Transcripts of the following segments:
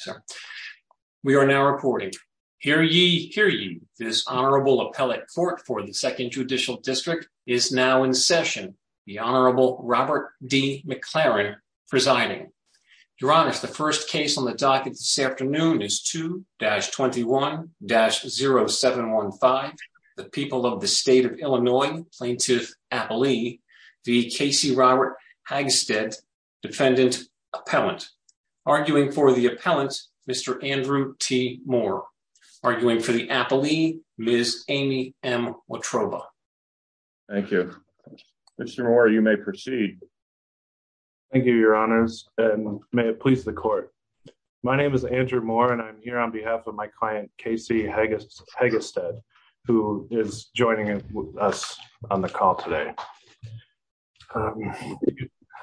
sir. We are now reporting. Hear ye, hear you. This honorable appellate court for the Second Judicial District is now in session. The Honorable Robert D. McLaren presiding. Your Honor, the first case on the docket this afternoon is 2-21-0715. The people of the state of Illinois, Plaintiff Appali, the Casey Hagestedt, Mr. Andrew T. Moore, arguing for the Appali, Ms. Amy M. Watroba. Thank you. Mr. Moore, you may proceed. Thank you, Your Honors, and may it please the court. My name is Andrew Moore, and I'm here on behalf of my client Casey Hagestedt, who is joining us on the call today.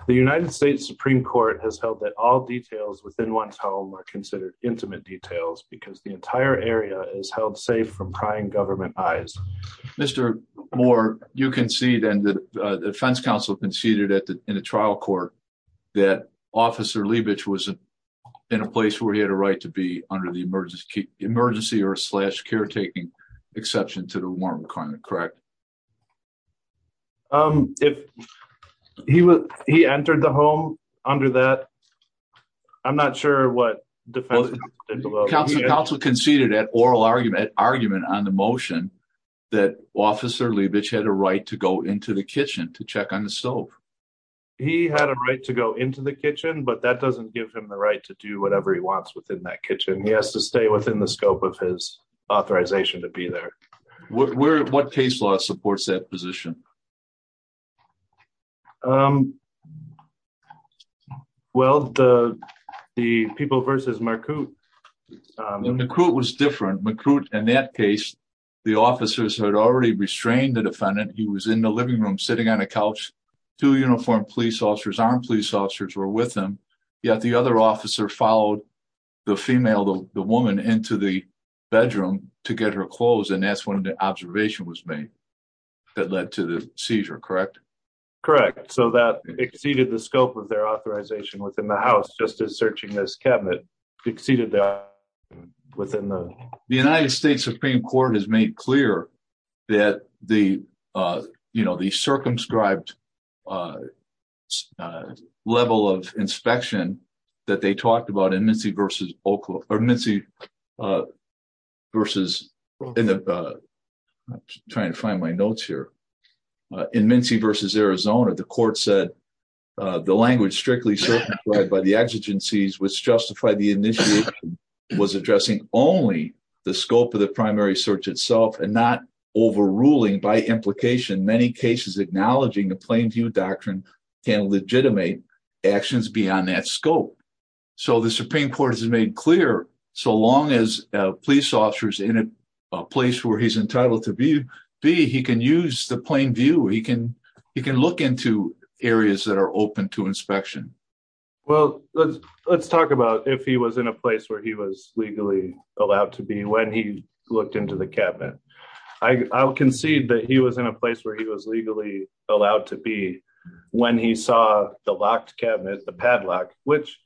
The United States Supreme Court has held that all details within one's home are considered intimate details because the entire area is held safe from prying government eyes. Mr. Moore, you concede, and the defense counsel conceded in a trial court, that Officer Leibich was in a place where he had a right to be under the emergency or slash caretaking exception to the warrant requirement, correct? If he entered the home under that, I'm not sure what defense counsel conceded at oral argument on the motion that Officer Leibich had a right to go into the kitchen to check on the stove. He had a right to go into the kitchen, but that doesn't give him the right to do whatever he wants within that kitchen. He has to stay within the scope of his authorization to be there. What case law supports that position? Well, the people versus McCrute. McCrute was different. McCrute, in that case, the officers had already restrained the defendant. He was in the living room sitting on a couch. Two uniformed police officers, armed police officers, were with him, yet the other officer followed the female, the woman, into the bedroom to get her clothes, and that's when the observation was made that led to the seizure, correct? Correct. So that exceeded the scope of their authorization within the house, just as searching this cabinet exceeded that within the... The United States Supreme Court has made clear that the, you know, the circumscribed level of inspection that they talked about in Mincy versus Oklahoma, or Mincy versus... I'm trying to find my notes here. In Mincy versus Arizona, the court said the language strictly circumscribed by the exigencies which justified the initiation was addressing only the scope of the primary search itself and not overruling by implication many cases acknowledging the Plainview Doctrine can legitimate actions beyond that scope. So the Supreme Court has made clear so long as police officers in a place where he's entitled to be, he can use the Plainview. He can look into areas that are open to inspection. Well, let's talk about if he was in a place where he was legally allowed to be when he looked into the cabinet. I'll concede that he was in a place where he was legally allowed to be when he saw the locked cabinet, the padlock, which,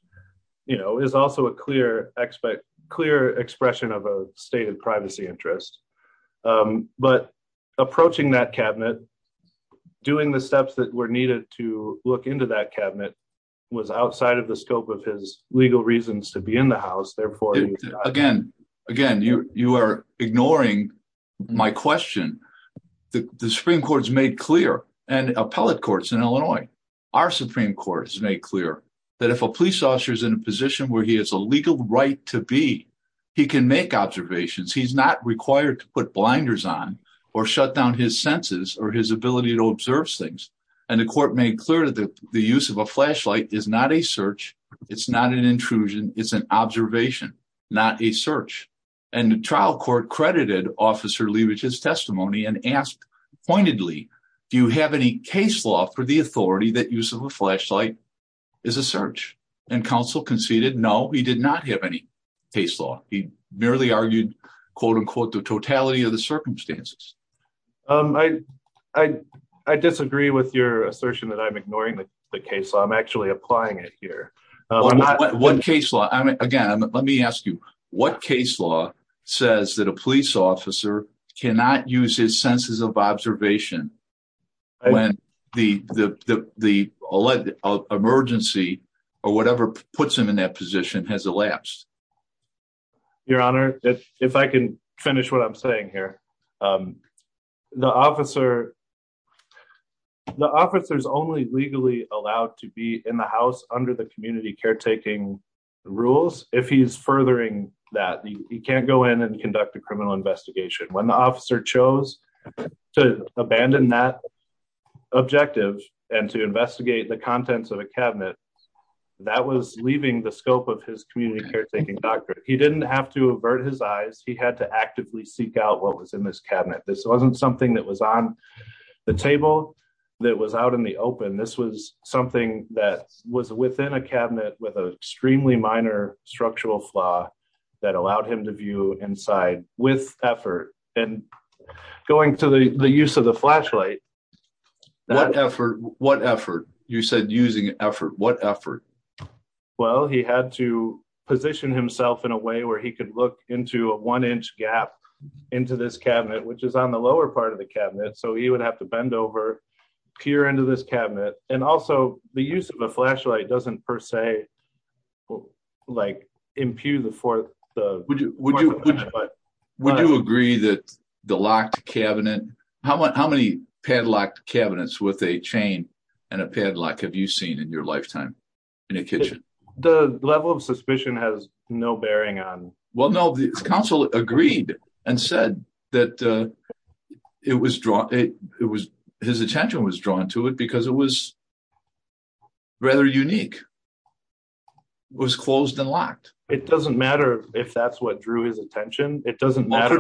you know, is also a clear expression of a state of privacy interest. But approaching that cabinet, doing the steps that were needed to look into that cabinet was outside of the scope of his legal reasons to be in the house, therefore... Again, again, you are ignoring my question. The Supreme Court's made clear and appellate courts in Illinois, our Supreme Court has made clear that if a police officer is in a position where he has a legal right to be, he can make observations. He's not required to put blinders on or shut down his senses or his ability to observe things. And the court made clear that the use of a flashlight is not a search. It's not an intrusion. It's an observation, not a search. And the trial court credited Officer Leavage's testimony and asked pointedly, do you have any case law for the authority that use of a flashlight is a search? And counsel conceded, no, he did not have any case law. He merely argued, quote unquote, the totality of the circumstances. I disagree with your assertion that I'm ignoring the case law. I'm actually applying it here. What case law? Again, let me ask you, what case law says that a police officer cannot use his senses of observation when the emergency or whatever puts him in that position has elapsed? Your honor, if I can finish what I'm saying here, um, the officer, the officers only legally allowed to be in the house under the community caretaking rules. If he's furthering that he can't go in and conduct a investigation when the officer chose to abandon that objective and to investigate the contents of a cabinet that was leaving the scope of his community caretaking doctor. He didn't have to avert his eyes. He had to actively seek out what was in this cabinet. This wasn't something that was on the table that was out in the open. This was something that was within a cabinet with a extremely minor structural flaw that allowed him to view inside with effort and going to the use of the flashlight. What effort? What effort? You said using effort. What effort? Well, he had to position himself in a way where he could look into a one inch gap into this cabinet, which is on the lower part of the cabinet. So he would have to bend over pure into this cabinet. And also the use of a flashlight doesn't per se, like impute the fourth. Would you agree that the locked cabinet, how many padlocked cabinets with a chain and a padlock have you seen in your lifetime in a kitchen? The level of suspicion has no bearing on. Well, no, the council agreed and said that his attention was drawn to it because it was rather unique. It was closed and locked. It doesn't matter if that's what drew his attention. It doesn't matter.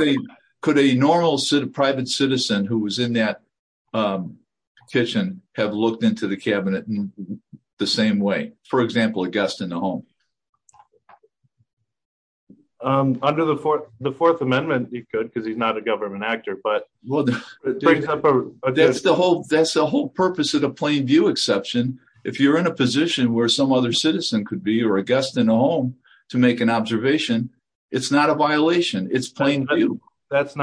Could a normal private citizen who was in that kitchen have looked into the cabinet in the same way? For example, a guest in the home. Under the fourth amendment, he could because he's not a government actor. That's the whole purpose of the plain view exception. If you're in a position where another citizen could be or a guest in a home to make an observation, it's not a violation. That's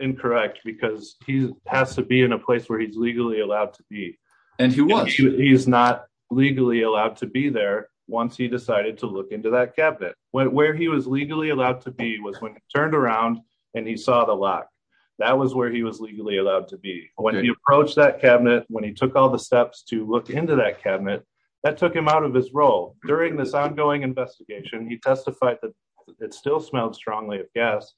incorrect because he has to be in a place where he's legally allowed to be. He's not legally allowed to be there once he decided to look into that cabinet. Where he was legally allowed to be was when he turned around and he saw the lock. That was where he was legally allowed to be. When he approached that cabinet, when he took all the steps to look into that cabinet, that took him out of his role. During this ongoing investigation, he testified that it still smelled strongly of gas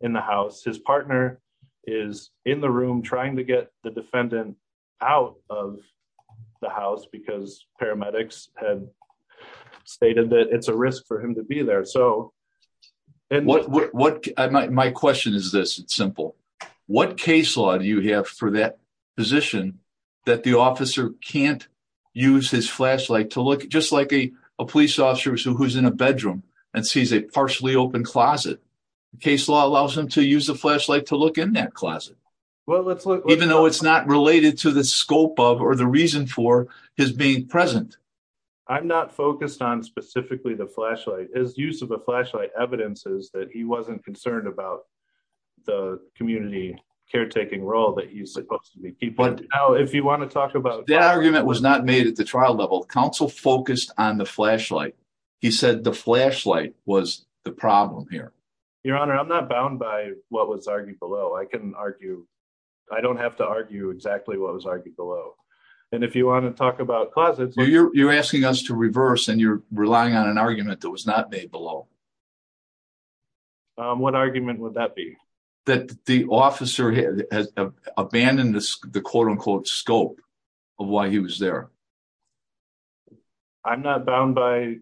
in the house. His partner is in the room trying to get the defendant out of the house because paramedics had stated that it's a risk for him to be there. My question is this. It's simple. What case law do you have for that position that the officer can't use his flashlight to look just like a police officer who's in a bedroom and sees a partially open closet? Case law allows him to use the flashlight to look in that closet even though it's not related to the scope of or the reason for his being present. I'm not focused on specifically the flashlight. His use of the flashlight evidences that he wasn't concerned about the community caretaking role that he's supposed to be keeping. That argument was not made at the trial level. Counsel focused on the flashlight. He said the flashlight was the problem here. Your Honor, I'm not bound by what was argued below. I don't have to argue exactly what was argued below. If you want to talk about closets... You're asking us to reverse and you're relying on argument that was not made below. What argument would that be? That the officer has abandoned the quote-unquote scope of why he was there. I'm not bound by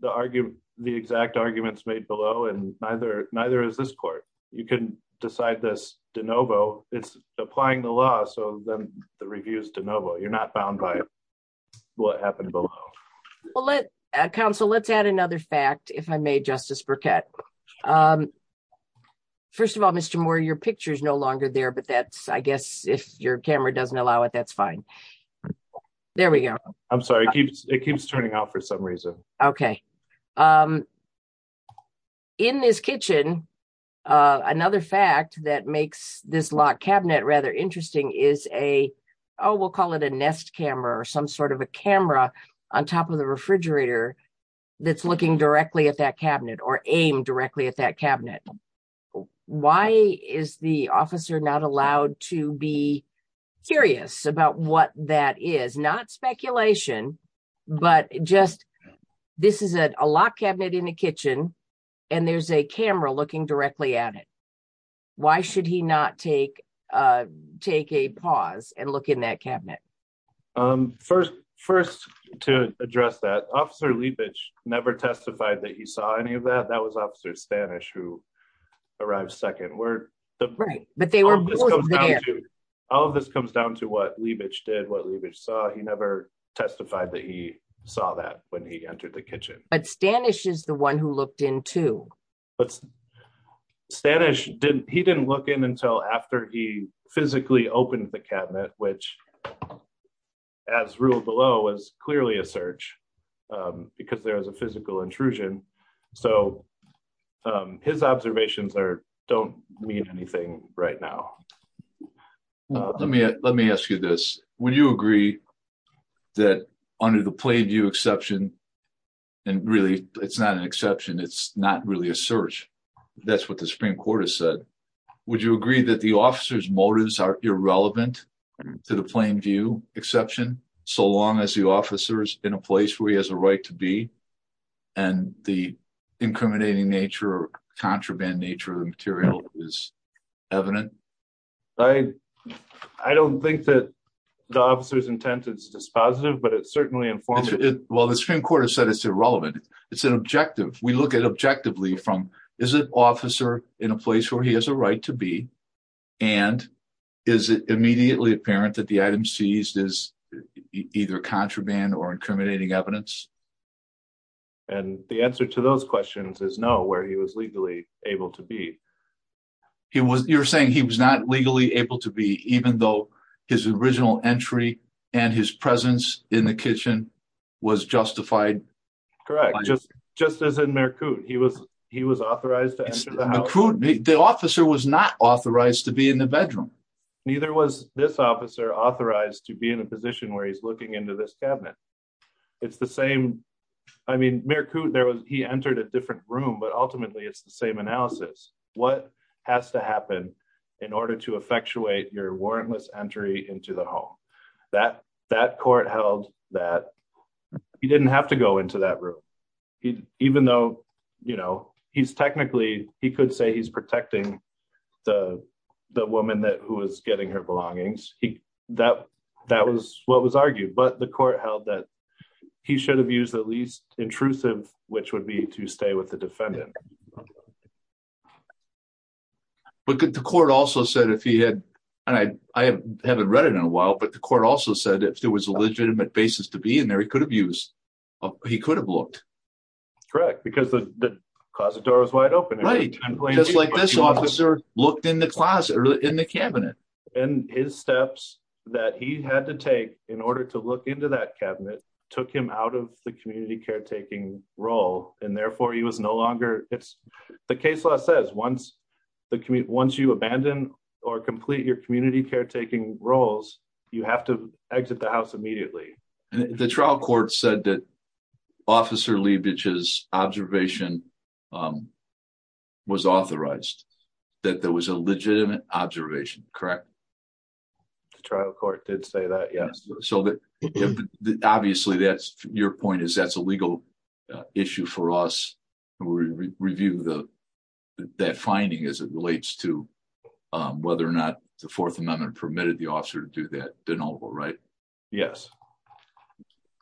the exact arguments made below and neither is this court. You can decide this de novo. It's applying the law so then the review is de novo. You're not bound by what happened below. Counsel, let's add another fact if I may, Justice Burkett. First of all, Mr. Moore, your picture is no longer there but that's... I guess if your camera doesn't allow it, that's fine. There we go. I'm sorry. It keeps turning out for some reason. Okay. In this kitchen, another fact that makes this locked cabinet rather interesting is a... Oh, we'll call it a nest camera or some sort of a camera on top of the refrigerator that's looking directly at that cabinet or aimed directly at that cabinet. Why is the officer not allowed to be curious about what that is? Not speculation but just this is a locked cabinet in a kitchen and there's a camera looking directly at it. Why should he not take a pause and look in that cabinet? First to address that, Officer Leibich never testified that he saw any of that. That was Officer Stanish who arrived second. All of this comes down to what Leibich did, what Leibich saw. He never testified that he saw that when he entered the kitchen. But Stanish is the one who looked in but Stanish, he didn't look in until after he physically opened the cabinet which as ruled below was clearly a search because there was a physical intrusion. So his observations don't mean anything right now. Let me ask you this. Would you agree that under the plain view exception and really it's not an exception, it's not really a search. That's what the Supreme Court has said. Would you agree that the officer's motives are irrelevant to the plain view exception so long as the officer's in a place where he has a right to be and the incriminating nature or contraband nature of the material is evident? I don't think that the officer's intent is dispositive but it's certainly informative. Well the Supreme Court has said it's irrelevant. It's an objective. We look at objectively from is an officer in a place where he has a right to be and is it immediately apparent that the item seized is either contraband or incriminating evidence? And the answer to those questions is no he was legally able to be. You're saying he was not legally able to be even though his original entry and his presence in the kitchen was justified? Correct. Just as in Mercoud. He was authorized to enter the house. The officer was not authorized to be in the bedroom. Neither was this officer authorized to be in a position where he's looking into this cabinet. It's the same. I mean Mercoud he entered a different room but ultimately it's the same analysis. What has to happen in order to effectuate your warrantless entry into the home? That court held that he didn't have to go into that room. Even though you know he's technically he could say he's protecting the woman that who was getting her belongings. That was what was he should have used the least intrusive which would be to stay with the defendant. But could the court also said if he had and I haven't read it in a while but the court also said if there was a legitimate basis to be in there he could have used he could have looked. Correct because the closet door was wide open. Right just like this officer looked in the closet in the cabinet. And his steps that he had to take in order to look into that cabinet took him out of the community caretaking role and therefore he was no longer it's the case law says once the community once you abandon or complete your community caretaking roles you have to exit the house immediately. The trial court said that officer Liebich's observation um was authorized that there was a legitimate observation correct? The trial court did say that yes. So that obviously that's your point is that's a legal issue for us to review the that finding as it relates to um whether or not the fourth amendment permitted the officer to do that Yes.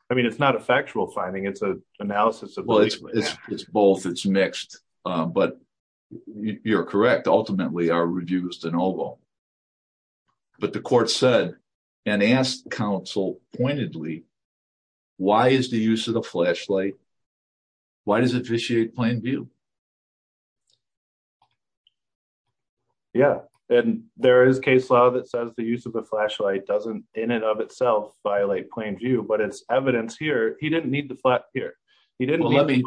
I mean it's not a factual finding it's a analysis of well it's it's both it's mixed but you're correct ultimately are reduced in oval. But the court said and asked counsel pointedly why is the use of the flashlight why does it vitiate plain view? Yeah and there is case law that says the use of a flashlight doesn't in and of itself violate plain view but it's evidence here he didn't need the flat here he didn't let me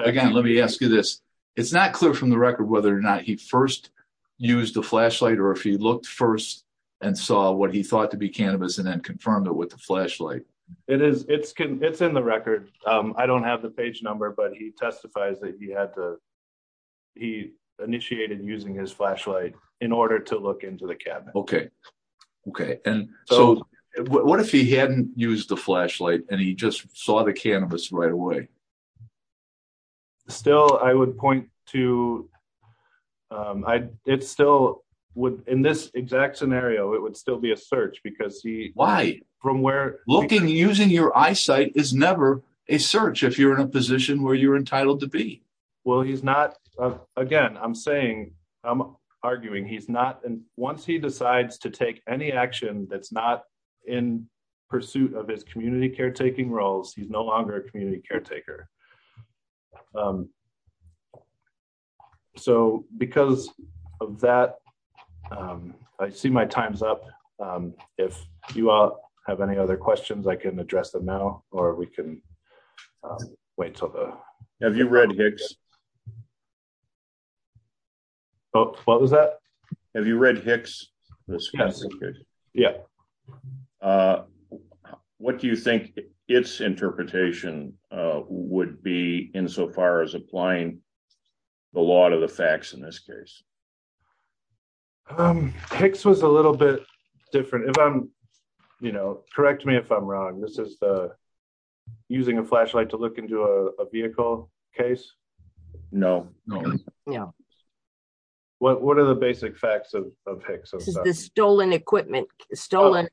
again let me ask you this it's not clear from the record whether or not he first used the flashlight or if he looked first and saw what he thought to be cannabis and then confirmed it with the flashlight. It is it's can it's in the record um I don't have the page number but he testifies that he had to he initiated using his flashlight in order to look into the cabinet. Okay okay and so what if he hadn't used the flashlight and he just saw the cannabis right away? Still I would point to um I it still would in this exact scenario it would still be a search because he why from where looking using your eyesight is never a search if you're in a again I'm saying I'm arguing he's not and once he decides to take any action that's not in pursuit of his community caretaking roles he's no longer a community caretaker. So because of that I see my time's up if you all have any other questions I can address them now or we can wait till the. Have you read Hicks? Oh what was that? Have you read Hicks? Yeah. What do you think its interpretation would be insofar as applying the law to the facts in this case? Hicks was a little bit different if I'm you know correct me if I'm wrong this is the using a flashlight to look into a vehicle case? No no no. What what are the basic facts of Hicks? This is the stolen equipment stolen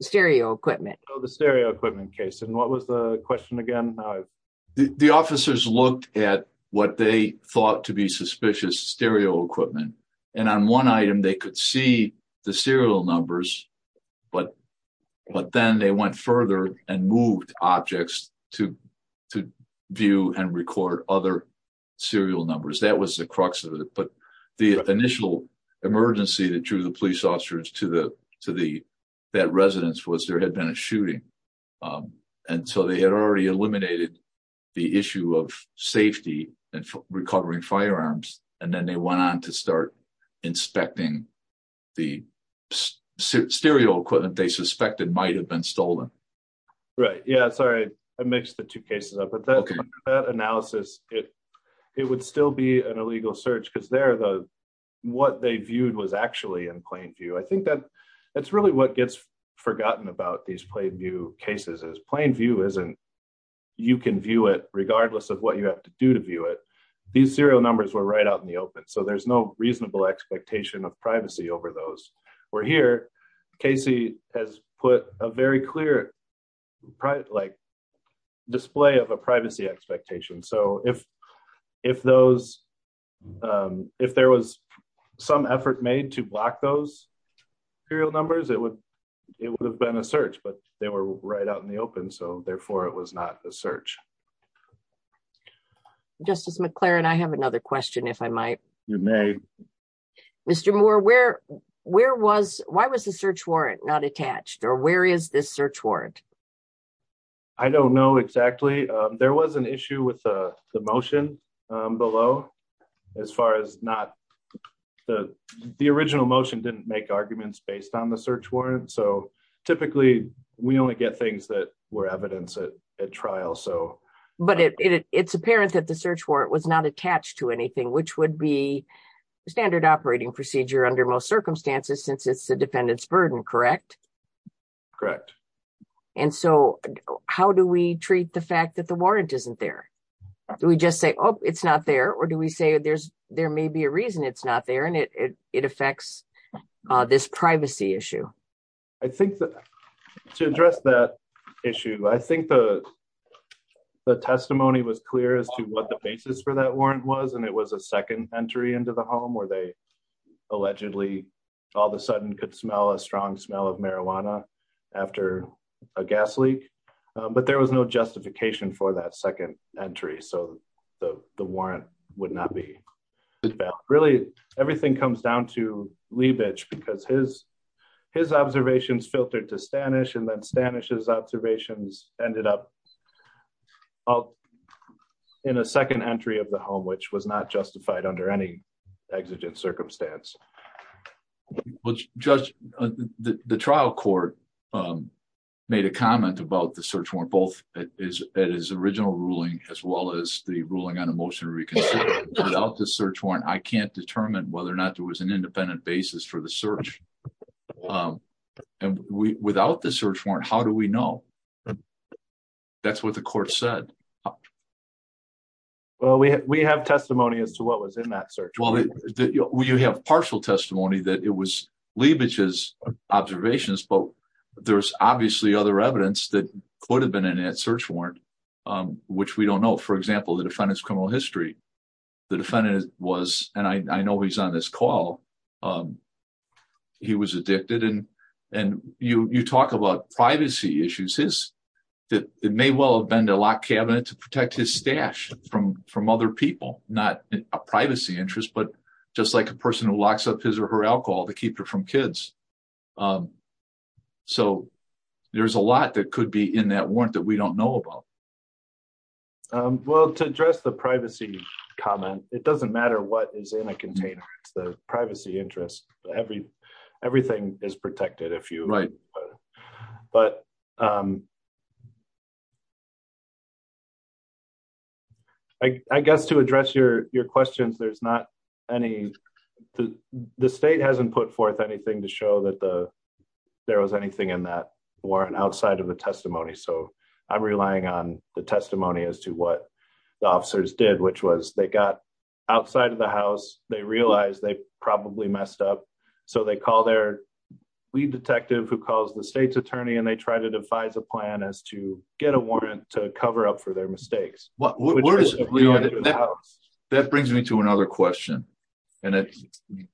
stereo equipment. Oh the stereo equipment case and what was the question again? The officers looked at what they thought to be suspicious stereo equipment and on one item they could see the serial numbers but but then they went further and moved objects to to view and record other serial numbers that was the crux of it but the initial emergency that drew the police officers to the to the that residence was there had been a shooting and so they had already eliminated the issue of safety and recovering firearms and then they went on to start inspecting the stereo equipment they suspected might have been stolen. Right yeah sorry I mixed the two cases up but that analysis it it would still be an illegal search because they're the what they viewed was actually in plain view I think that that's really what gets forgotten about these plain view cases is plain view isn't you can view it regardless of what you have to do to view it these serial numbers were right out in the open so there's no reasonable expectation of privacy over those we're here Casey has put a very clear private like display of a privacy expectation so if if those if there was some effort made to block those serial numbers it would it would have been a search but they were right out in the open so therefore it was not a search. Justice McLaren I have another question if I might. You may. Mr. Moore where where was why was the search warrant not attached or where is this search warrant? I don't know exactly there was an issue with the motion below as far as not the the original motion didn't make arguments based on the search warrant so typically we only get things that were evidence at trial so. But it it's apparent that the search warrant was not attached to anything which would be standard operating procedure under most circumstances since it's a defendant's burden correct? Correct. And so how do we treat the fact that the warrant isn't there do we just say oh it's not there or do we say there's there may be a reason it's not there and it it affects this privacy issue? I think that to address that issue I think the the testimony was clear as to the basis for that warrant was and it was a second entry into the home where they allegedly all of a sudden could smell a strong smell of marijuana after a gas leak but there was no justification for that second entry so the the warrant would not be. Really everything comes down to Liebich because his his observations filtered to Stanisch and then Stanisch's second entry of the home which was not justified under any exigent circumstance. Well Judge the trial court made a comment about the search warrant both at his original ruling as well as the ruling on a motion to reconsider without the search warrant I can't determine whether or not there was an independent basis for the search and without the search warrant how do we know? That's what the court said. Well we have testimony as to what was in that search. Well you have partial testimony that it was Liebich's observations but there's obviously other evidence that could have been in that search warrant which we don't know for example the defendant's criminal history the defendant was and I know he's on this call he was addicted and you you talk about privacy issues his that it may well have been to lock cabinet to protect his stash from from other people not a privacy interest but just like a person who locks up his or her alcohol to keep her from kids so there's a lot that could be in that warrant that we don't know about. Well to address the privacy comment it doesn't matter what is in a container it's the protected if you right but I guess to address your questions there's not any the state hasn't put forth anything to show that the there was anything in that warrant outside of the testimony so I'm relying on the testimony as to what the officers did which was they got outside of the lead detective who calls the state's attorney and they try to devise a plan as to get a warrant to cover up for their mistakes. Well that brings me to another question and it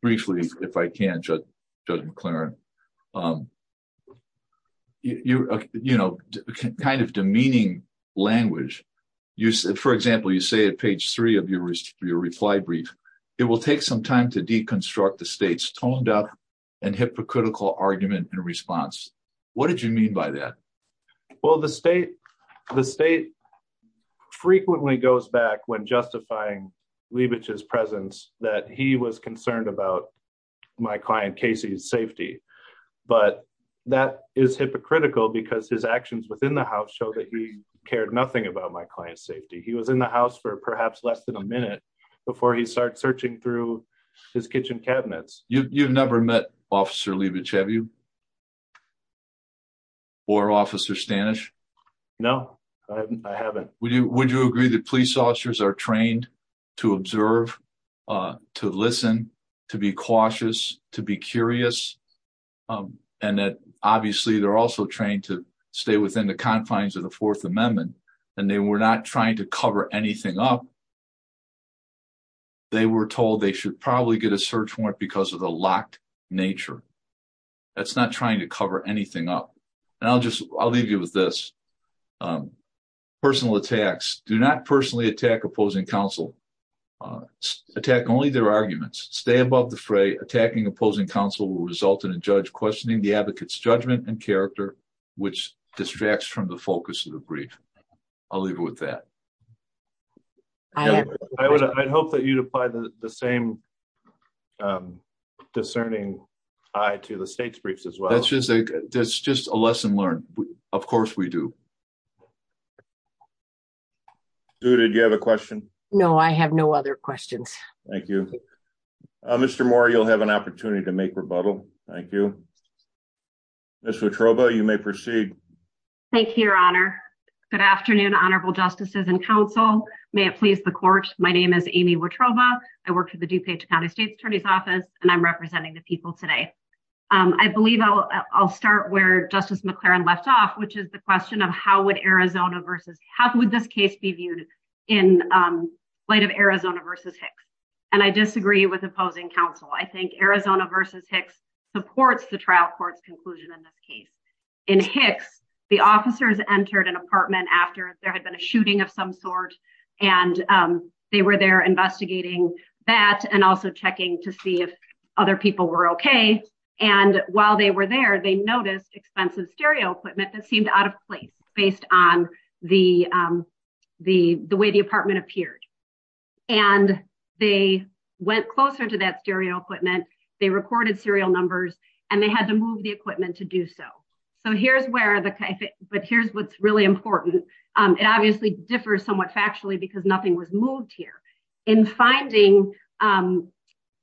briefly if I can judge judge McLaren you you know kind of demeaning language you for example you say at page three of your reply brief it will take some time to deconstruct the hypocritical argument in response what did you mean by that? Well the state the state frequently goes back when justifying Leibich's presence that he was concerned about my client Casey's safety but that is hypocritical because his actions within the house show that he cared nothing about my client's safety he was in the house for perhaps less than a minute before he started searching through his kitchen cabinets. You've never met officer Leibich have you or officer Stanish? No I haven't. Would you would you agree that police officers are trained to observe to listen to be cautious to be curious and that obviously they're also trained to stay within the confines of the fourth amendment and they were not trying to cover anything up they were told they should probably get a search warrant because of the locked nature that's not trying to cover anything up and I'll just I'll leave you with this personal attacks do not personally attack opposing counsel attack only their arguments stay above the fray attacking opposing counsel will result in a judge questioning the advocate's judgment and the same discerning eye to the state's briefs as well. That's just a that's just a lesson learned of course we do. Do did you have a question? No I have no other questions. Thank you Mr. Moore you'll have an opportunity to make rebuttal thank you. Ms. Watroba you may proceed. Thank you your I work for the DuPage County State Attorney's Office and I'm representing the people today. I believe I'll I'll start where Justice McLaren left off which is the question of how would Arizona versus how would this case be viewed in light of Arizona versus Hicks and I disagree with opposing counsel. I think Arizona versus Hicks supports the trial court's conclusion in this case. In Hicks the officers entered an apartment after there had been a shooting of some sort and they were there investigating that and also checking to see if other people were okay and while they were there they noticed expensive stereo equipment that seemed out of place based on the the the way the apartment appeared and they went closer to that stereo equipment they recorded serial numbers and they had to move the equipment to do so. So here's where the but here's what's really important it obviously differs somewhat factually because nothing was moved here in finding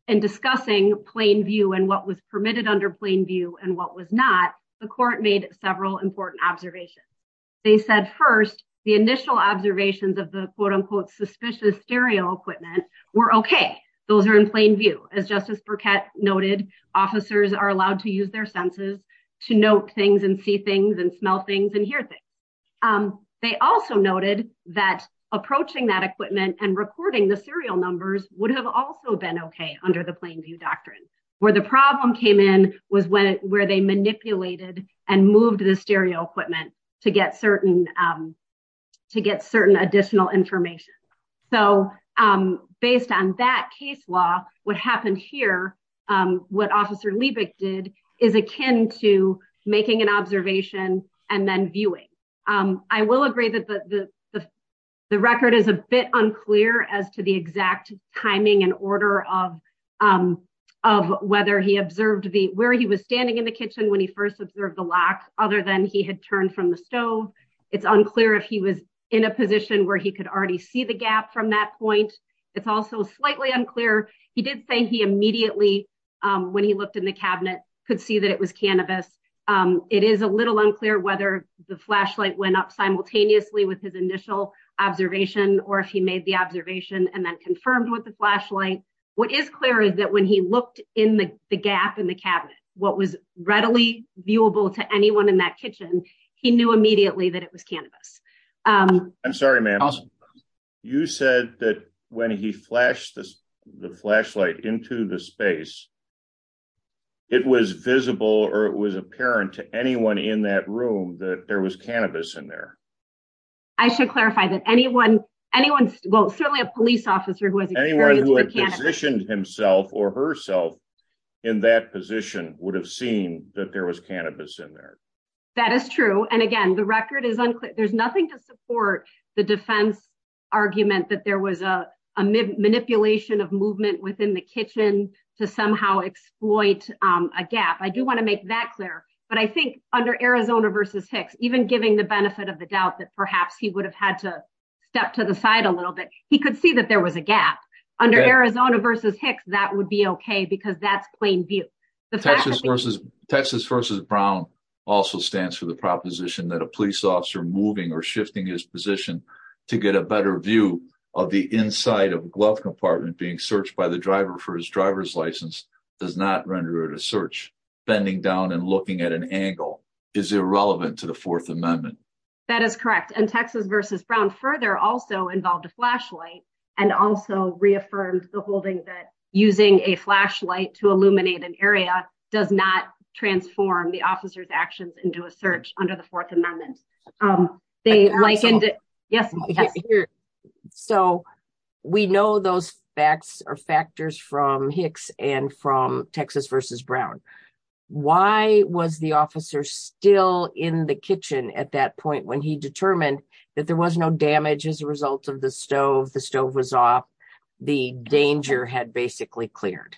and discussing plain view and what was permitted under plain view and what was not the court made several important observations. They said first the initial observations of the quote-unquote suspicious stereo equipment were okay those are in plain view as Justice Burkett noted officers are allowed to use their senses to note things and see things and smell things and hear things. They also noted that approaching that equipment and recording the serial numbers would have also been okay under the plain view doctrine. Where the problem came in was when where they manipulated and moved the stereo equipment to get certain to get certain additional information. So based on that case law what happened here what officer Liebig did is akin to making an observation and then viewing. I will agree that the the the record is a bit unclear as to the exact timing and order of of whether he observed the where he was standing in the kitchen when he first observed the lock other than he had turned from the stove. It's unclear if he was in a position where he could already see the gap from that point. It's also slightly unclear he did say he immediately when he looked in the cabinet could see that it was cannabis. It is a little unclear whether the flashlight went up simultaneously with his initial observation or if he made the observation and then confirmed with the flashlight. What is clear is that when he looked in the the gap in the cabinet what was readily viewable to anyone in that kitchen he knew immediately that it was cannabis. I'm sorry ma'am you said that when he flashed the flashlight into the space it was visible or it was apparent to anyone in that room that there was cannabis in there. I should clarify that anyone anyone well certainly a police officer who has anyone who had positioned himself or herself in that position would have seen that there was cannabis in there. That is true and again the record is unclear there's nothing to support the defense argument that there was a manipulation of movement within the kitchen to somehow exploit a gap. I do want to make that clear but I think under Arizona versus Hicks even giving the benefit of the doubt that perhaps he would have had to step to the side a little bit he could see that there was a gap under Arizona versus Hicks that would be okay because that's plain view. The Texas versus Texas versus Brown also stands for the proposition that a police officer moving or shifting his position to get a better view of the inside of a glove compartment being searched by the driver for his driver's license does not render it a search. Bending down and looking at an angle is irrelevant to the fourth amendment. That is correct and Texas versus Brown further also involved a flashlight and also reaffirmed the holding that using a flashlight to illuminate an area does not transform the officer's actions into a search under the um they like. So we know those facts are factors from Hicks and from Texas versus Brown. Why was the officer still in the kitchen at that point when he determined that there was no damage as a result of the stove? The stove was off the danger had basically cleared.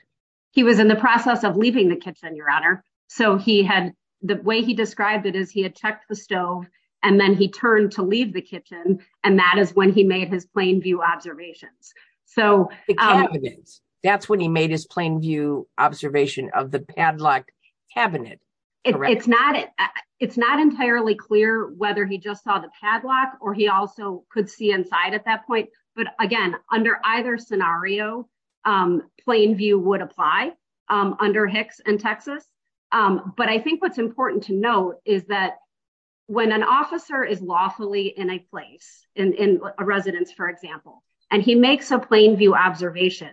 He was in the process of leaving the kitchen your honor so he had the way he described it is he had checked the stove then he turned to leave the kitchen and that is when he made his plain view observations. So that's when he made his plain view observation of the padlock cabinet. It's not it it's not entirely clear whether he just saw the padlock or he also could see inside at that point but again under either scenario um plain view would apply um under Hicks and Texas um but I think what's is lawfully in a place in in a residence for example and he makes a plain view observation.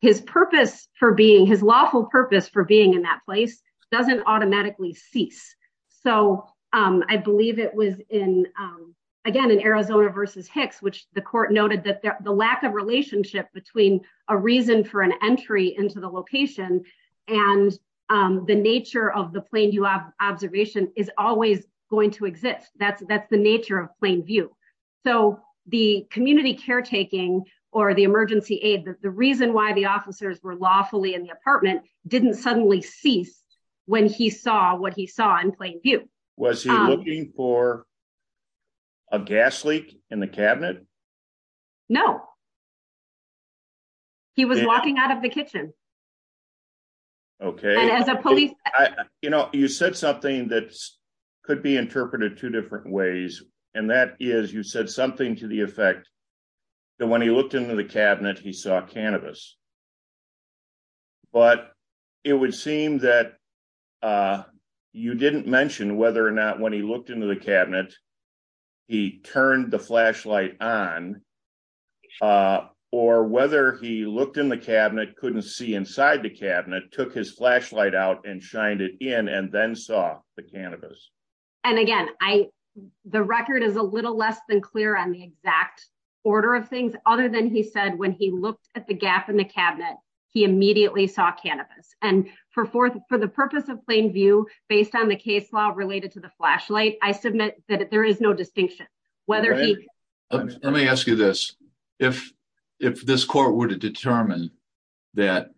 His purpose for being his lawful purpose for being in that place doesn't automatically cease. So um I believe it was in um again in Arizona versus Hicks which the court noted that the lack of relationship between a reason for an entry into the location and um the nature of the plain view observation is always going to exist. That's that's the nature of plain view. So the community caretaking or the emergency aid the reason why the officers were lawfully in the apartment didn't suddenly cease when he saw what he saw in plain view. Was he looking for a gas leak in the cabinet? No he was walking out of the kitchen. Okay as a police you know you said something that could be interpreted two different ways and that is you said something to the effect that when he looked into the cabinet he saw cannabis but it would seem that uh you didn't mention whether or not when he looked into the cabinet he turned the flashlight on uh or whether he looked in the cabinet couldn't see inside the cabinet took his flashlight out and shined it in and then saw the cannabis. And again I the record is a little less than clear on the exact order of things other than he said when he looked at the gap in the cabinet he immediately saw cannabis and for fourth for the purpose of plain view based on the case law related to the flashlight I submit that there is no distinction whether he let me ask you this if if this court were to determine that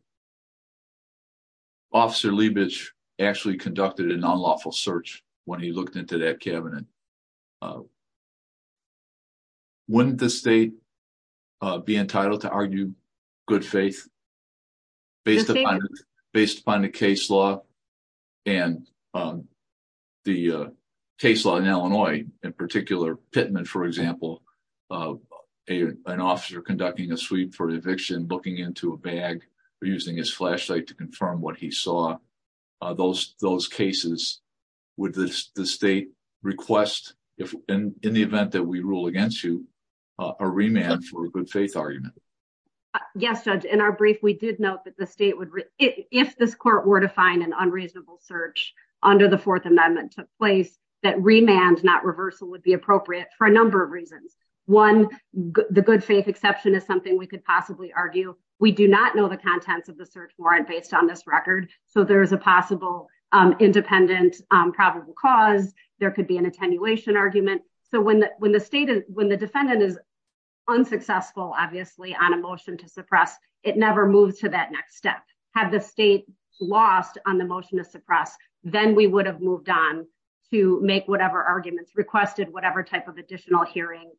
Officer Leibich actually conducted a non-lawful search when he looked into that cabinet wouldn't the state be entitled to argue good faith based upon based upon the case law and the case law in Illinois in particular Pittman for example an officer conducting a sweep for eviction looking into a bag or using his flashlight to confirm what he saw those those cases would the state request if in the event that we rule against you a remand for a good faith argument? Yes judge in our brief we did note that the state would if this court were to find an unreasonable search under the fourth amendment took place that remand not reversal would be appropriate for a number of reasons one the good faith exception is something we could possibly argue we do not know the contents of the search warrant based on this record so there's a possible independent probable cause there could be an attenuation argument so when when the state is when the defendant is unsuccessful obviously on a motion to suppress it never moves to that next step had the state lost on the motion to suppress then we would have moved on to make whatever arguments requested whatever type of additional hearing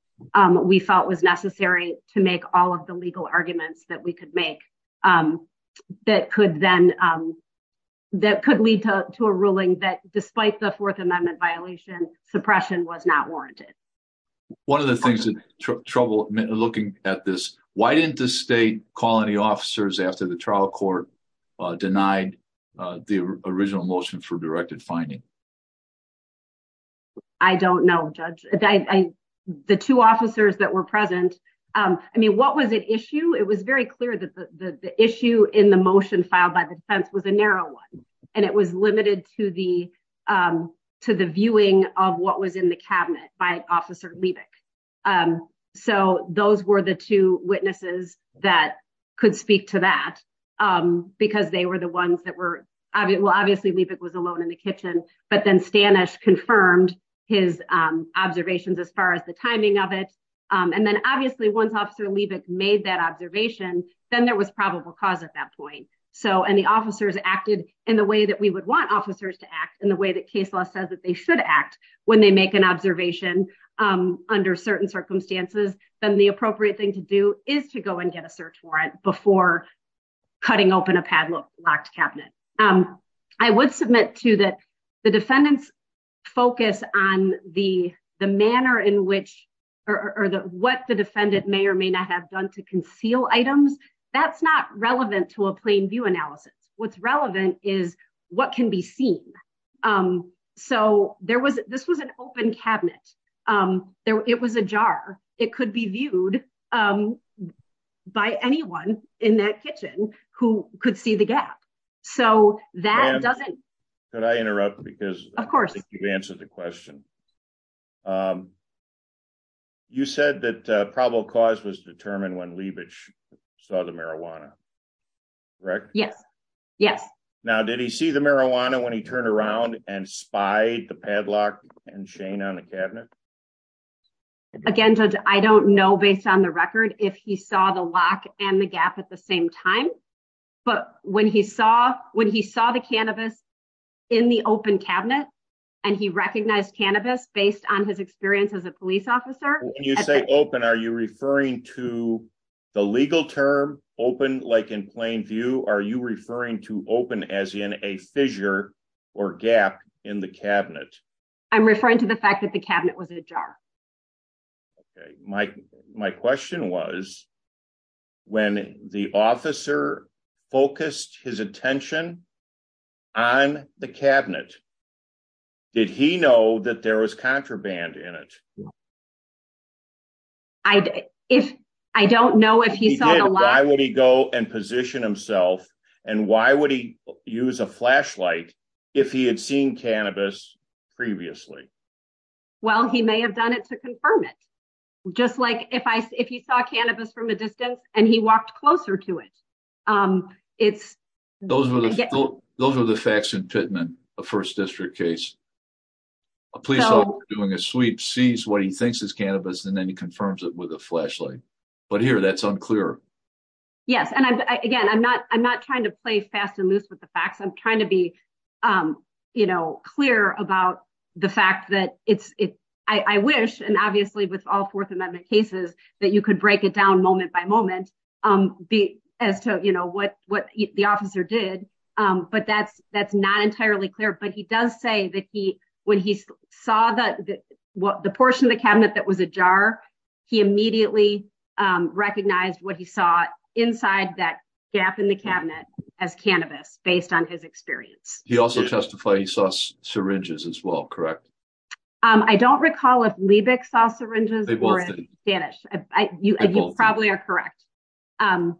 we felt was necessary to make all of the legal arguments that we could make that could then that could lead to a ruling that despite the fourth amendment violation suppression was not after the trial court denied the original motion for directed finding I don't know judge I the two officers that were present I mean what was at issue it was very clear that the the issue in the motion filed by the defense was a narrow one and it was limited to the to the viewing of what was in the cabinet by officer Liebich so those were the two witnesses that could speak to that because they were the ones that were obviously Liebich was alone in the kitchen but then Stanishe confirmed his observations as far as the timing of it and then obviously once officer Liebich made that observation then there was probable cause at that point so and the officers acted in the way that we would want officers to act in the way that case law says that they should act when they make an observation under certain circumstances then the appropriate thing to do is to go and get a search warrant before cutting open a padlocked cabinet I would submit to that the defendants focus on the the manner in which or the what the defendant may or may not have done to conceal items that's not relevant to a plain view analysis what's relevant is what can be seen so there was this was an open cabinet there it was a jar it could be viewed by anyone in that kitchen who could see the gap so that doesn't could I interrupt because of course you've answered the question you said that probable cause was determined when Liebich saw the marijuana correct yes yes now did he see the marijuana when he turned around and spied the padlock and Shane on the cabinet again judge I don't know based on the record if he saw the lock and the gap at the same time but when he saw when he saw the cannabis in the open cabinet and he recognized cannabis based on his experience as a police officer when you say open are you referring to the legal term open like in plain view are you referring to open as in a fissure or gap in the cabinet I'm referring to the fact that the cabinet was a jar okay my my question was when the officer focused his attention on the cabinet did he know that there was contraband in it well I if I don't know if he saw why would he go and position himself and why would he use a flashlight if he had seen cannabis previously well he may have done it to confirm it just like if I if he saw cannabis from a distance and he walked closer to it um it's those were those were the facts in Pittman a first district case a police officer doing a sweep sees what he thinks is cannabis and then he confirms it with a flashlight but here that's unclear yes and I again I'm not I'm not trying to play fast and loose with the facts I'm trying to be um you know clear about the fact that it's it I I wish and obviously with all fourth amendment cases that you could break it down moment by moment um be as to you know what what the officer did um but that's that's not entirely clear but he does say that he when he saw that what the portion of the cabinet that was a jar he immediately um recognized what he saw inside that gap in the cabinet as cannabis based on his experience he also testified he saw syringes as well correct um I don't recall if Liebich saw syringes they were in Spanish you probably are correct um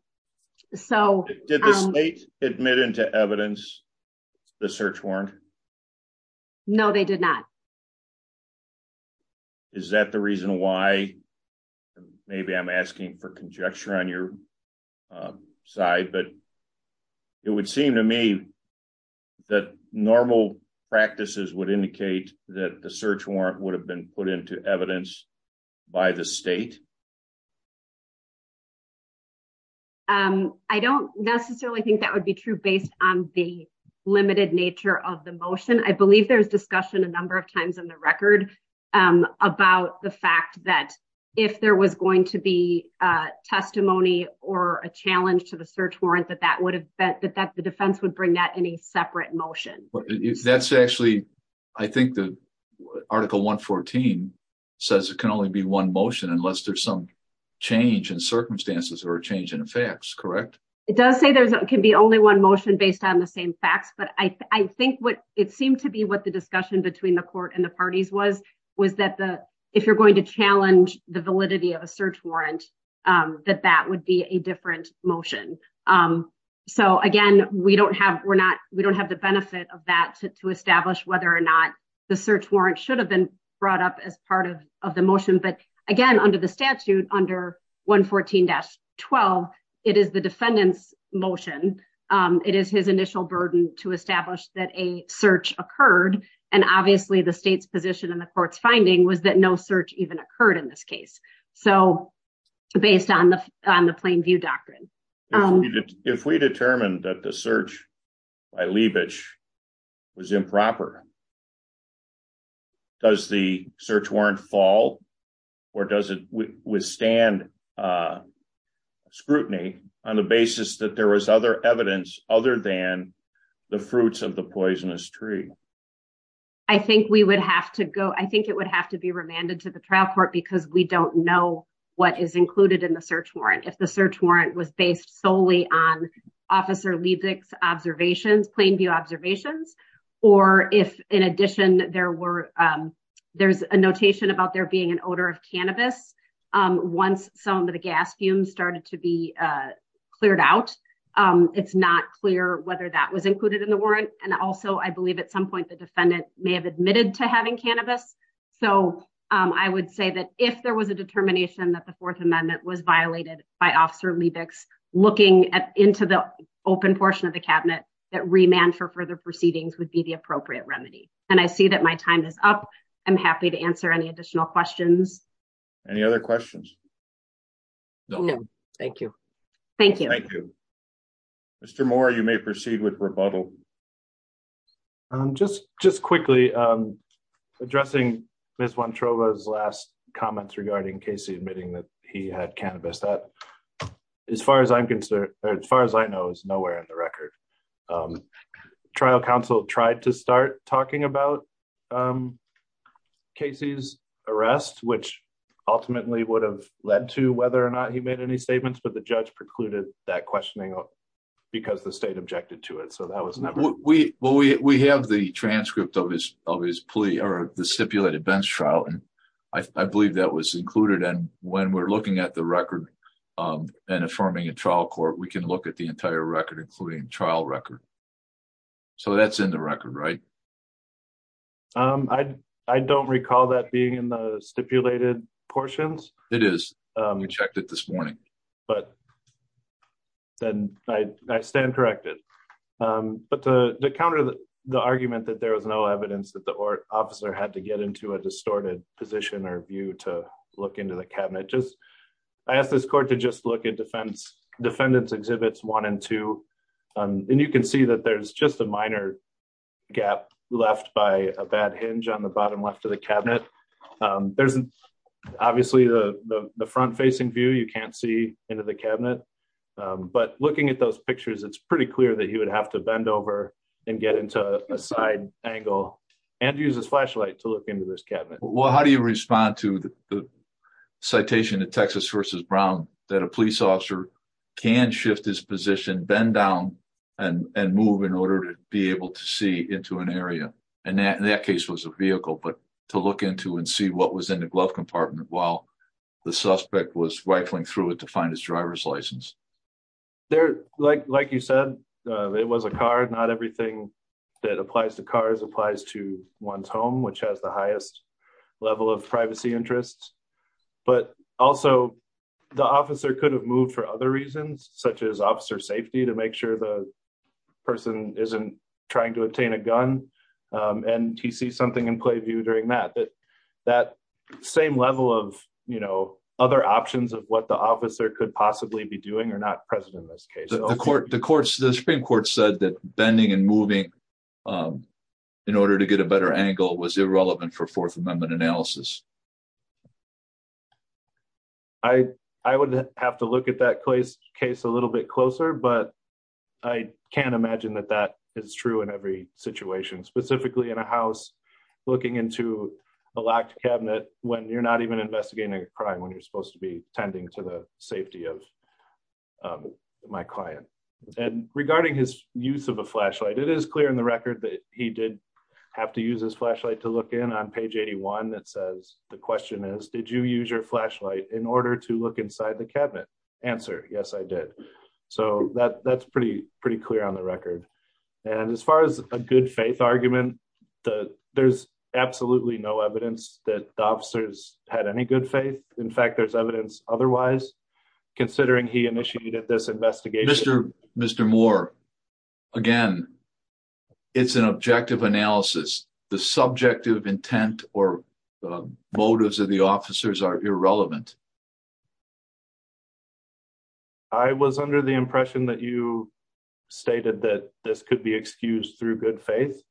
so did the state admit into evidence the search warrant no they did not is that the reason why maybe I'm asking for conjecture on your side but it would seem to me that normal practices would indicate that the search would have been put into evidence by the state um I don't necessarily think that would be true based on the limited nature of the motion I believe there's discussion a number of times in the record um about the fact that if there was going to be a testimony or a challenge to the search warrant that that would have been that the defense would bring that in a separate motion that's actually I think the article 114 says it can only be one motion unless there's some change in circumstances or a change in effects correct it does say there can be only one motion based on the same facts but I think what it seemed to be what the discussion between the court and the parties was was that the if you're going to we don't have we're not we don't have the benefit of that to establish whether or not the search warrant should have been brought up as part of of the motion but again under the statute under 114-12 it is the defendant's motion it is his initial burden to establish that a search occurred and obviously the state's position in the court's finding was that no search even occurred in this case so based on the on the plain view doctrine if we determined that the search by Liebich was improper does the search warrant fall or does it withstand uh scrutiny on the basis that there was other evidence other than the fruits of the poisonous tree I think we would have to go I think it would have to be remanded to the trial court because we don't know what is included in the search warrant if the search warrant was based solely on officer Liebich's observations plain view observations or if in addition there were there's a notation about there being an odor of cannabis once some of the gas fumes started to be cleared out it's not clear whether that was included in the warrant and also I believe at some point the defendant may have admitted to having cannabis so I would say that if there was a determination that the fourth amendment was violated by officer Liebich's looking at into the open portion of the cabinet that remand for further proceedings would be the appropriate remedy and I see that my time is up I'm happy to answer any additional questions any other questions no no thank you thank you thank you Mr. Moore you may proceed with rebuttal um just just quickly um addressing Miss Wontrova's last comments regarding Casey admitting that he had cannabis that as far as I'm concerned as far as I know is nowhere in the record um trial counsel tried to start talking about um Casey's arrest which ultimately would have led to whether or not he made any statements but the judge precluded that questioning because the state objected to it so that was never we well we we have the transcript of his of his plea or the stipulated bench trial and I believe that was included and when we're looking at the record um and affirming a trial court we can look at the entire record including trial record so that's in the but then I stand corrected um but to counter the argument that there was no evidence that the officer had to get into a distorted position or view to look into the cabinet just I asked this court to just look at defense defendants exhibits one and two um and you can see that there's just a minor gap left by a bad hinge on the bottom left of the cabinet um there's obviously the the front facing view you can't see into the cabinet um but looking at those pictures it's pretty clear that he would have to bend over and get into a side angle and use his flashlight to look into this cabinet well how do you respond to the citation of texas versus brown that a police officer can shift his position bend down and and move in order to be able to see into an area and that in that case was a vehicle but to look into and see what was in the glove compartment while the suspect was rifling through it to find his driver's license there like like you said uh it was a car not everything that applies to cars applies to one's home which has the highest level of privacy interests but also the officer could have moved for other reasons such as officer safety to make sure the person isn't trying to obtain a gun and he sees something in play view during that but that same level of you know other options of what the officer could possibly be doing or not present in this case the court the courts the supreme court said that bending and moving um in order to get a better angle was irrelevant for fourth amendment analysis i i would have to look at that place case a little bit closer but i can't imagine that that is true in every situation specifically in a house looking into a locked cabinet when you're not even investigating a crime when you're supposed to be tending to the safety of my client and regarding his use of a flashlight it is clear in the record that he did have to use his flashlight to look in on page 81 that says the question is did you use your flashlight in order to look inside the cabinet answer yes i did so that that's pretty pretty clear on the record and as far as a good faith argument the there's absolutely no evidence that the officers had any good faith in fact there's evidence otherwise considering he initiated this investigation mr mr moore again it's an objective analysis the subjective intent or motives of the officers are irrelevant i was under the impression that you stated that this could be excused through good faith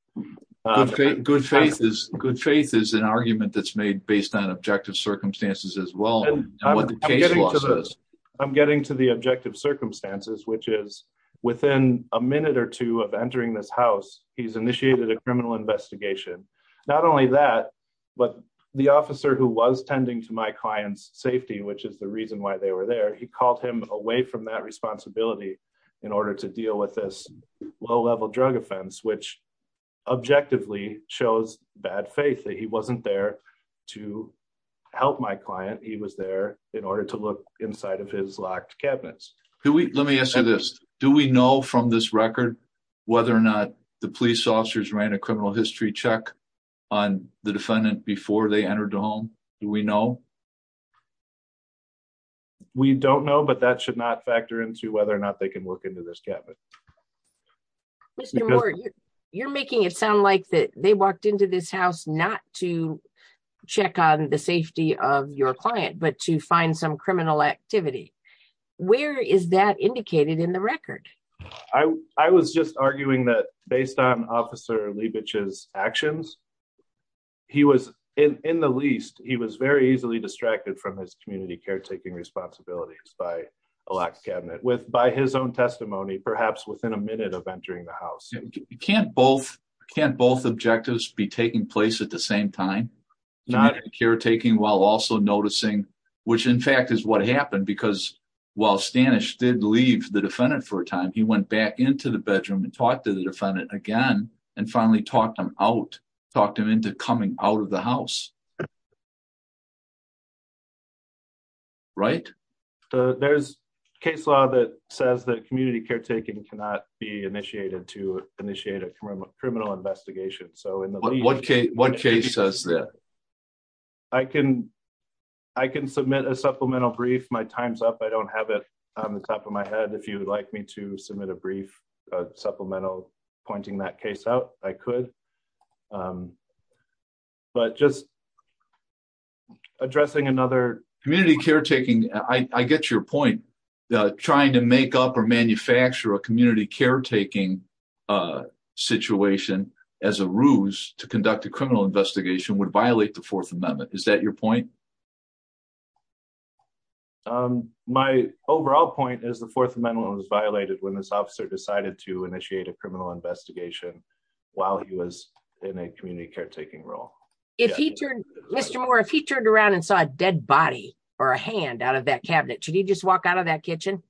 good faith is good faith is an argument that's made based on objective circumstances as well and i'm getting to this i'm getting to the objective circumstances which is within a minute or two of entering this house he's initiated a criminal investigation not only that but the officer who was tending to my client's safety which is the reason why they were there he called him away from that responsibility in order to deal with this low-level drug offense which objectively shows bad faith that he wasn't there to help my client he was there in order to look inside of his locked cabinets can we let me ask you this do we know from this record whether or not the police officers ran a criminal history check on the defendant before they entered the home do we know we don't know but that should not factor into whether or not they can work this cabinet you're making it sound like that they walked into this house not to check on the safety of your client but to find some criminal activity where is that indicated in the record i i was just arguing that based on officer leibovich's actions he was in in the least he was very easily distracted from his community caretaking responsibilities by a locked cabinet by his own testimony perhaps within a minute of entering the house you can't both can't both objectives be taking place at the same time not caretaking while also noticing which in fact is what happened because while stanish did leave the defendant for a time he went back into the bedroom and talked to the defendant again and finally talked him out talked him into coming out of the house right there's case law that says that community caretaking cannot be initiated to initiate a criminal investigation so in what case what case says that i can i can submit a supplemental brief my time's up i don't have it on the top of my head if you would like me to but just addressing another community caretaking i i get your point trying to make up or manufacture a community caretaking uh situation as a ruse to conduct a criminal investigation would violate the fourth amendment is that your point um my overall point is the fourth amendment was violated when this officer decided to initiate a criminal investigation while he was in a community caretaking role if he turned mr moore if he turned around and saw a dead body or a hand out of that cabinet should he just walk out of that kitchen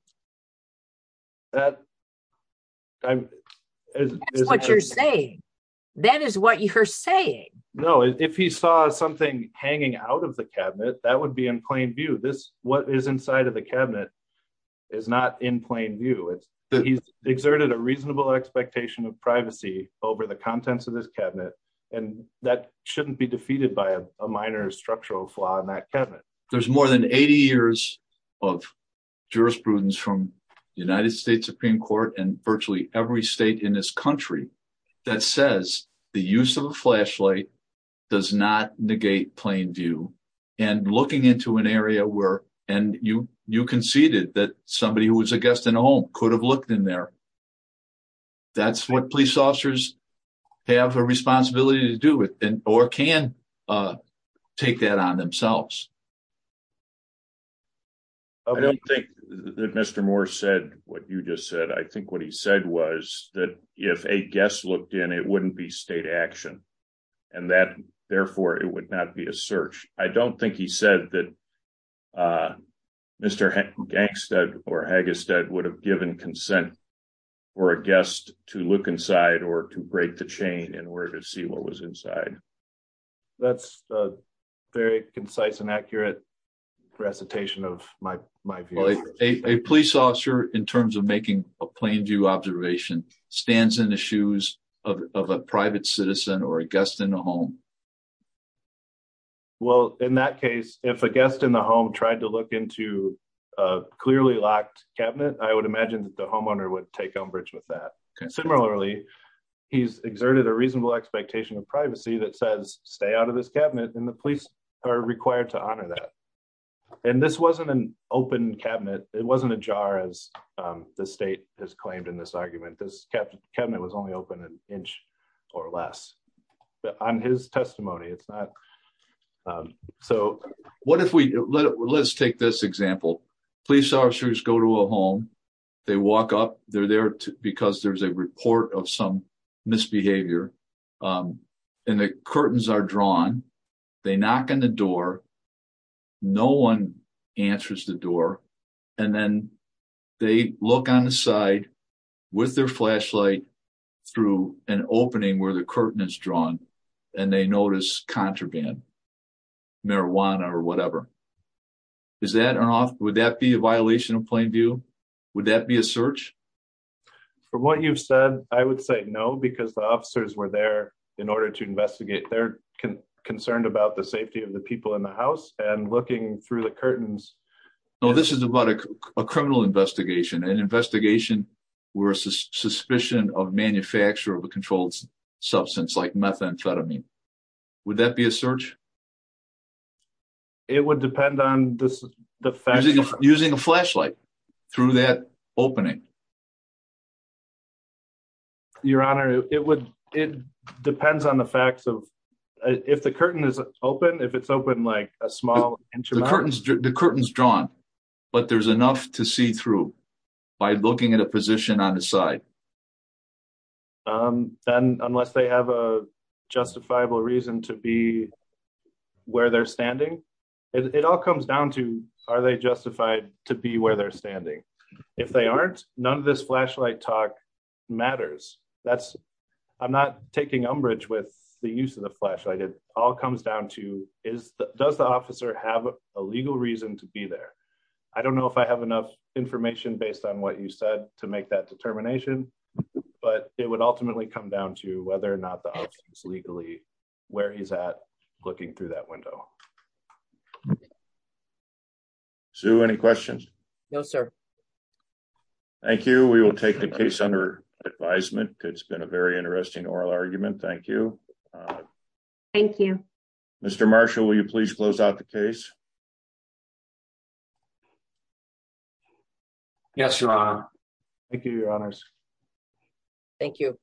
that i'm what you're saying that is what you're saying no if he saw something hanging out of the cabinet that would be in plain view this what is inside of the cabinet is not in plain view he's exerted a reasonable expectation of privacy over the contents of this cabinet and that shouldn't be defeated by a minor structural flaw in that cabinet there's more than 80 years of jurisprudence from the united states supreme court and virtually every state in this country that says the use of a flashlight does not negate plain view and looking into an area where and you you conceded that somebody who was a guest in a home could have looked in there that's what police officers have a responsibility to do with and or can uh take that on themselves i don't think that mr moore said what you just said i think what he said was that if a guest looked in it wouldn't be state action and that therefore it would not be a search i don't think he said that uh mr gangstead or haggistead would have given consent for a guest to look inside or to break the chain in order to see what was inside that's a very concise and accurate recitation of my my view a police officer in terms of making a plain view observation stands in the shoes of a private citizen or a guest in the home um well in that case if a guest in the home tried to look into a clearly locked cabinet i would imagine that the homeowner would take umbrage with that similarly he's exerted a reasonable expectation of privacy that says stay out of this cabinet and the police are required to honor that and this wasn't an open cabinet it wasn't a jar as the state has claimed in this argument this cabinet was only open an inch or less on his testimony it's not um so what if we let's take this example police officers go to a home they walk up they're there because there's a report of some misbehavior um and the curtains are drawn they knock on the door no one answers the door and then they look on the side with their flashlight through an opening where the curtain is drawn and they notice contraband marijuana or whatever is that an off would that be a violation of plain view would that be a search from what you've said i would say no because the officers were there in order to investigate they're concerned about the safety of the people in the house and looking through the curtains no this is about a criminal investigation an investigation where a suspicion of manufacture of a controlled substance like methamphetamine would that be a search it would depend on this the fact using a flashlight through that opening your honor it would it depends on the facts of if the curtain is open if it's open like a small inch the curtains the curtains drawn but there's enough to see through by looking at a position on the side um then unless they have a justifiable reason to be where they're standing it all comes down to are they justified to be where they're standing if they aren't none of this flashlight talk matters that's i'm not taking umbrage with the use of the flashlight it all comes down to is does the officer have a legal reason to be there i don't know if i have enough information based on what you said to make that determination but it would ultimately come down to whether or not the officer is legally where he's at looking through that window so any questions no sir thank you we will take the case under advisement it's been a very interesting oral argument thank you thank you mr marshall will you please close out the case yes your honor thank you your honors thank you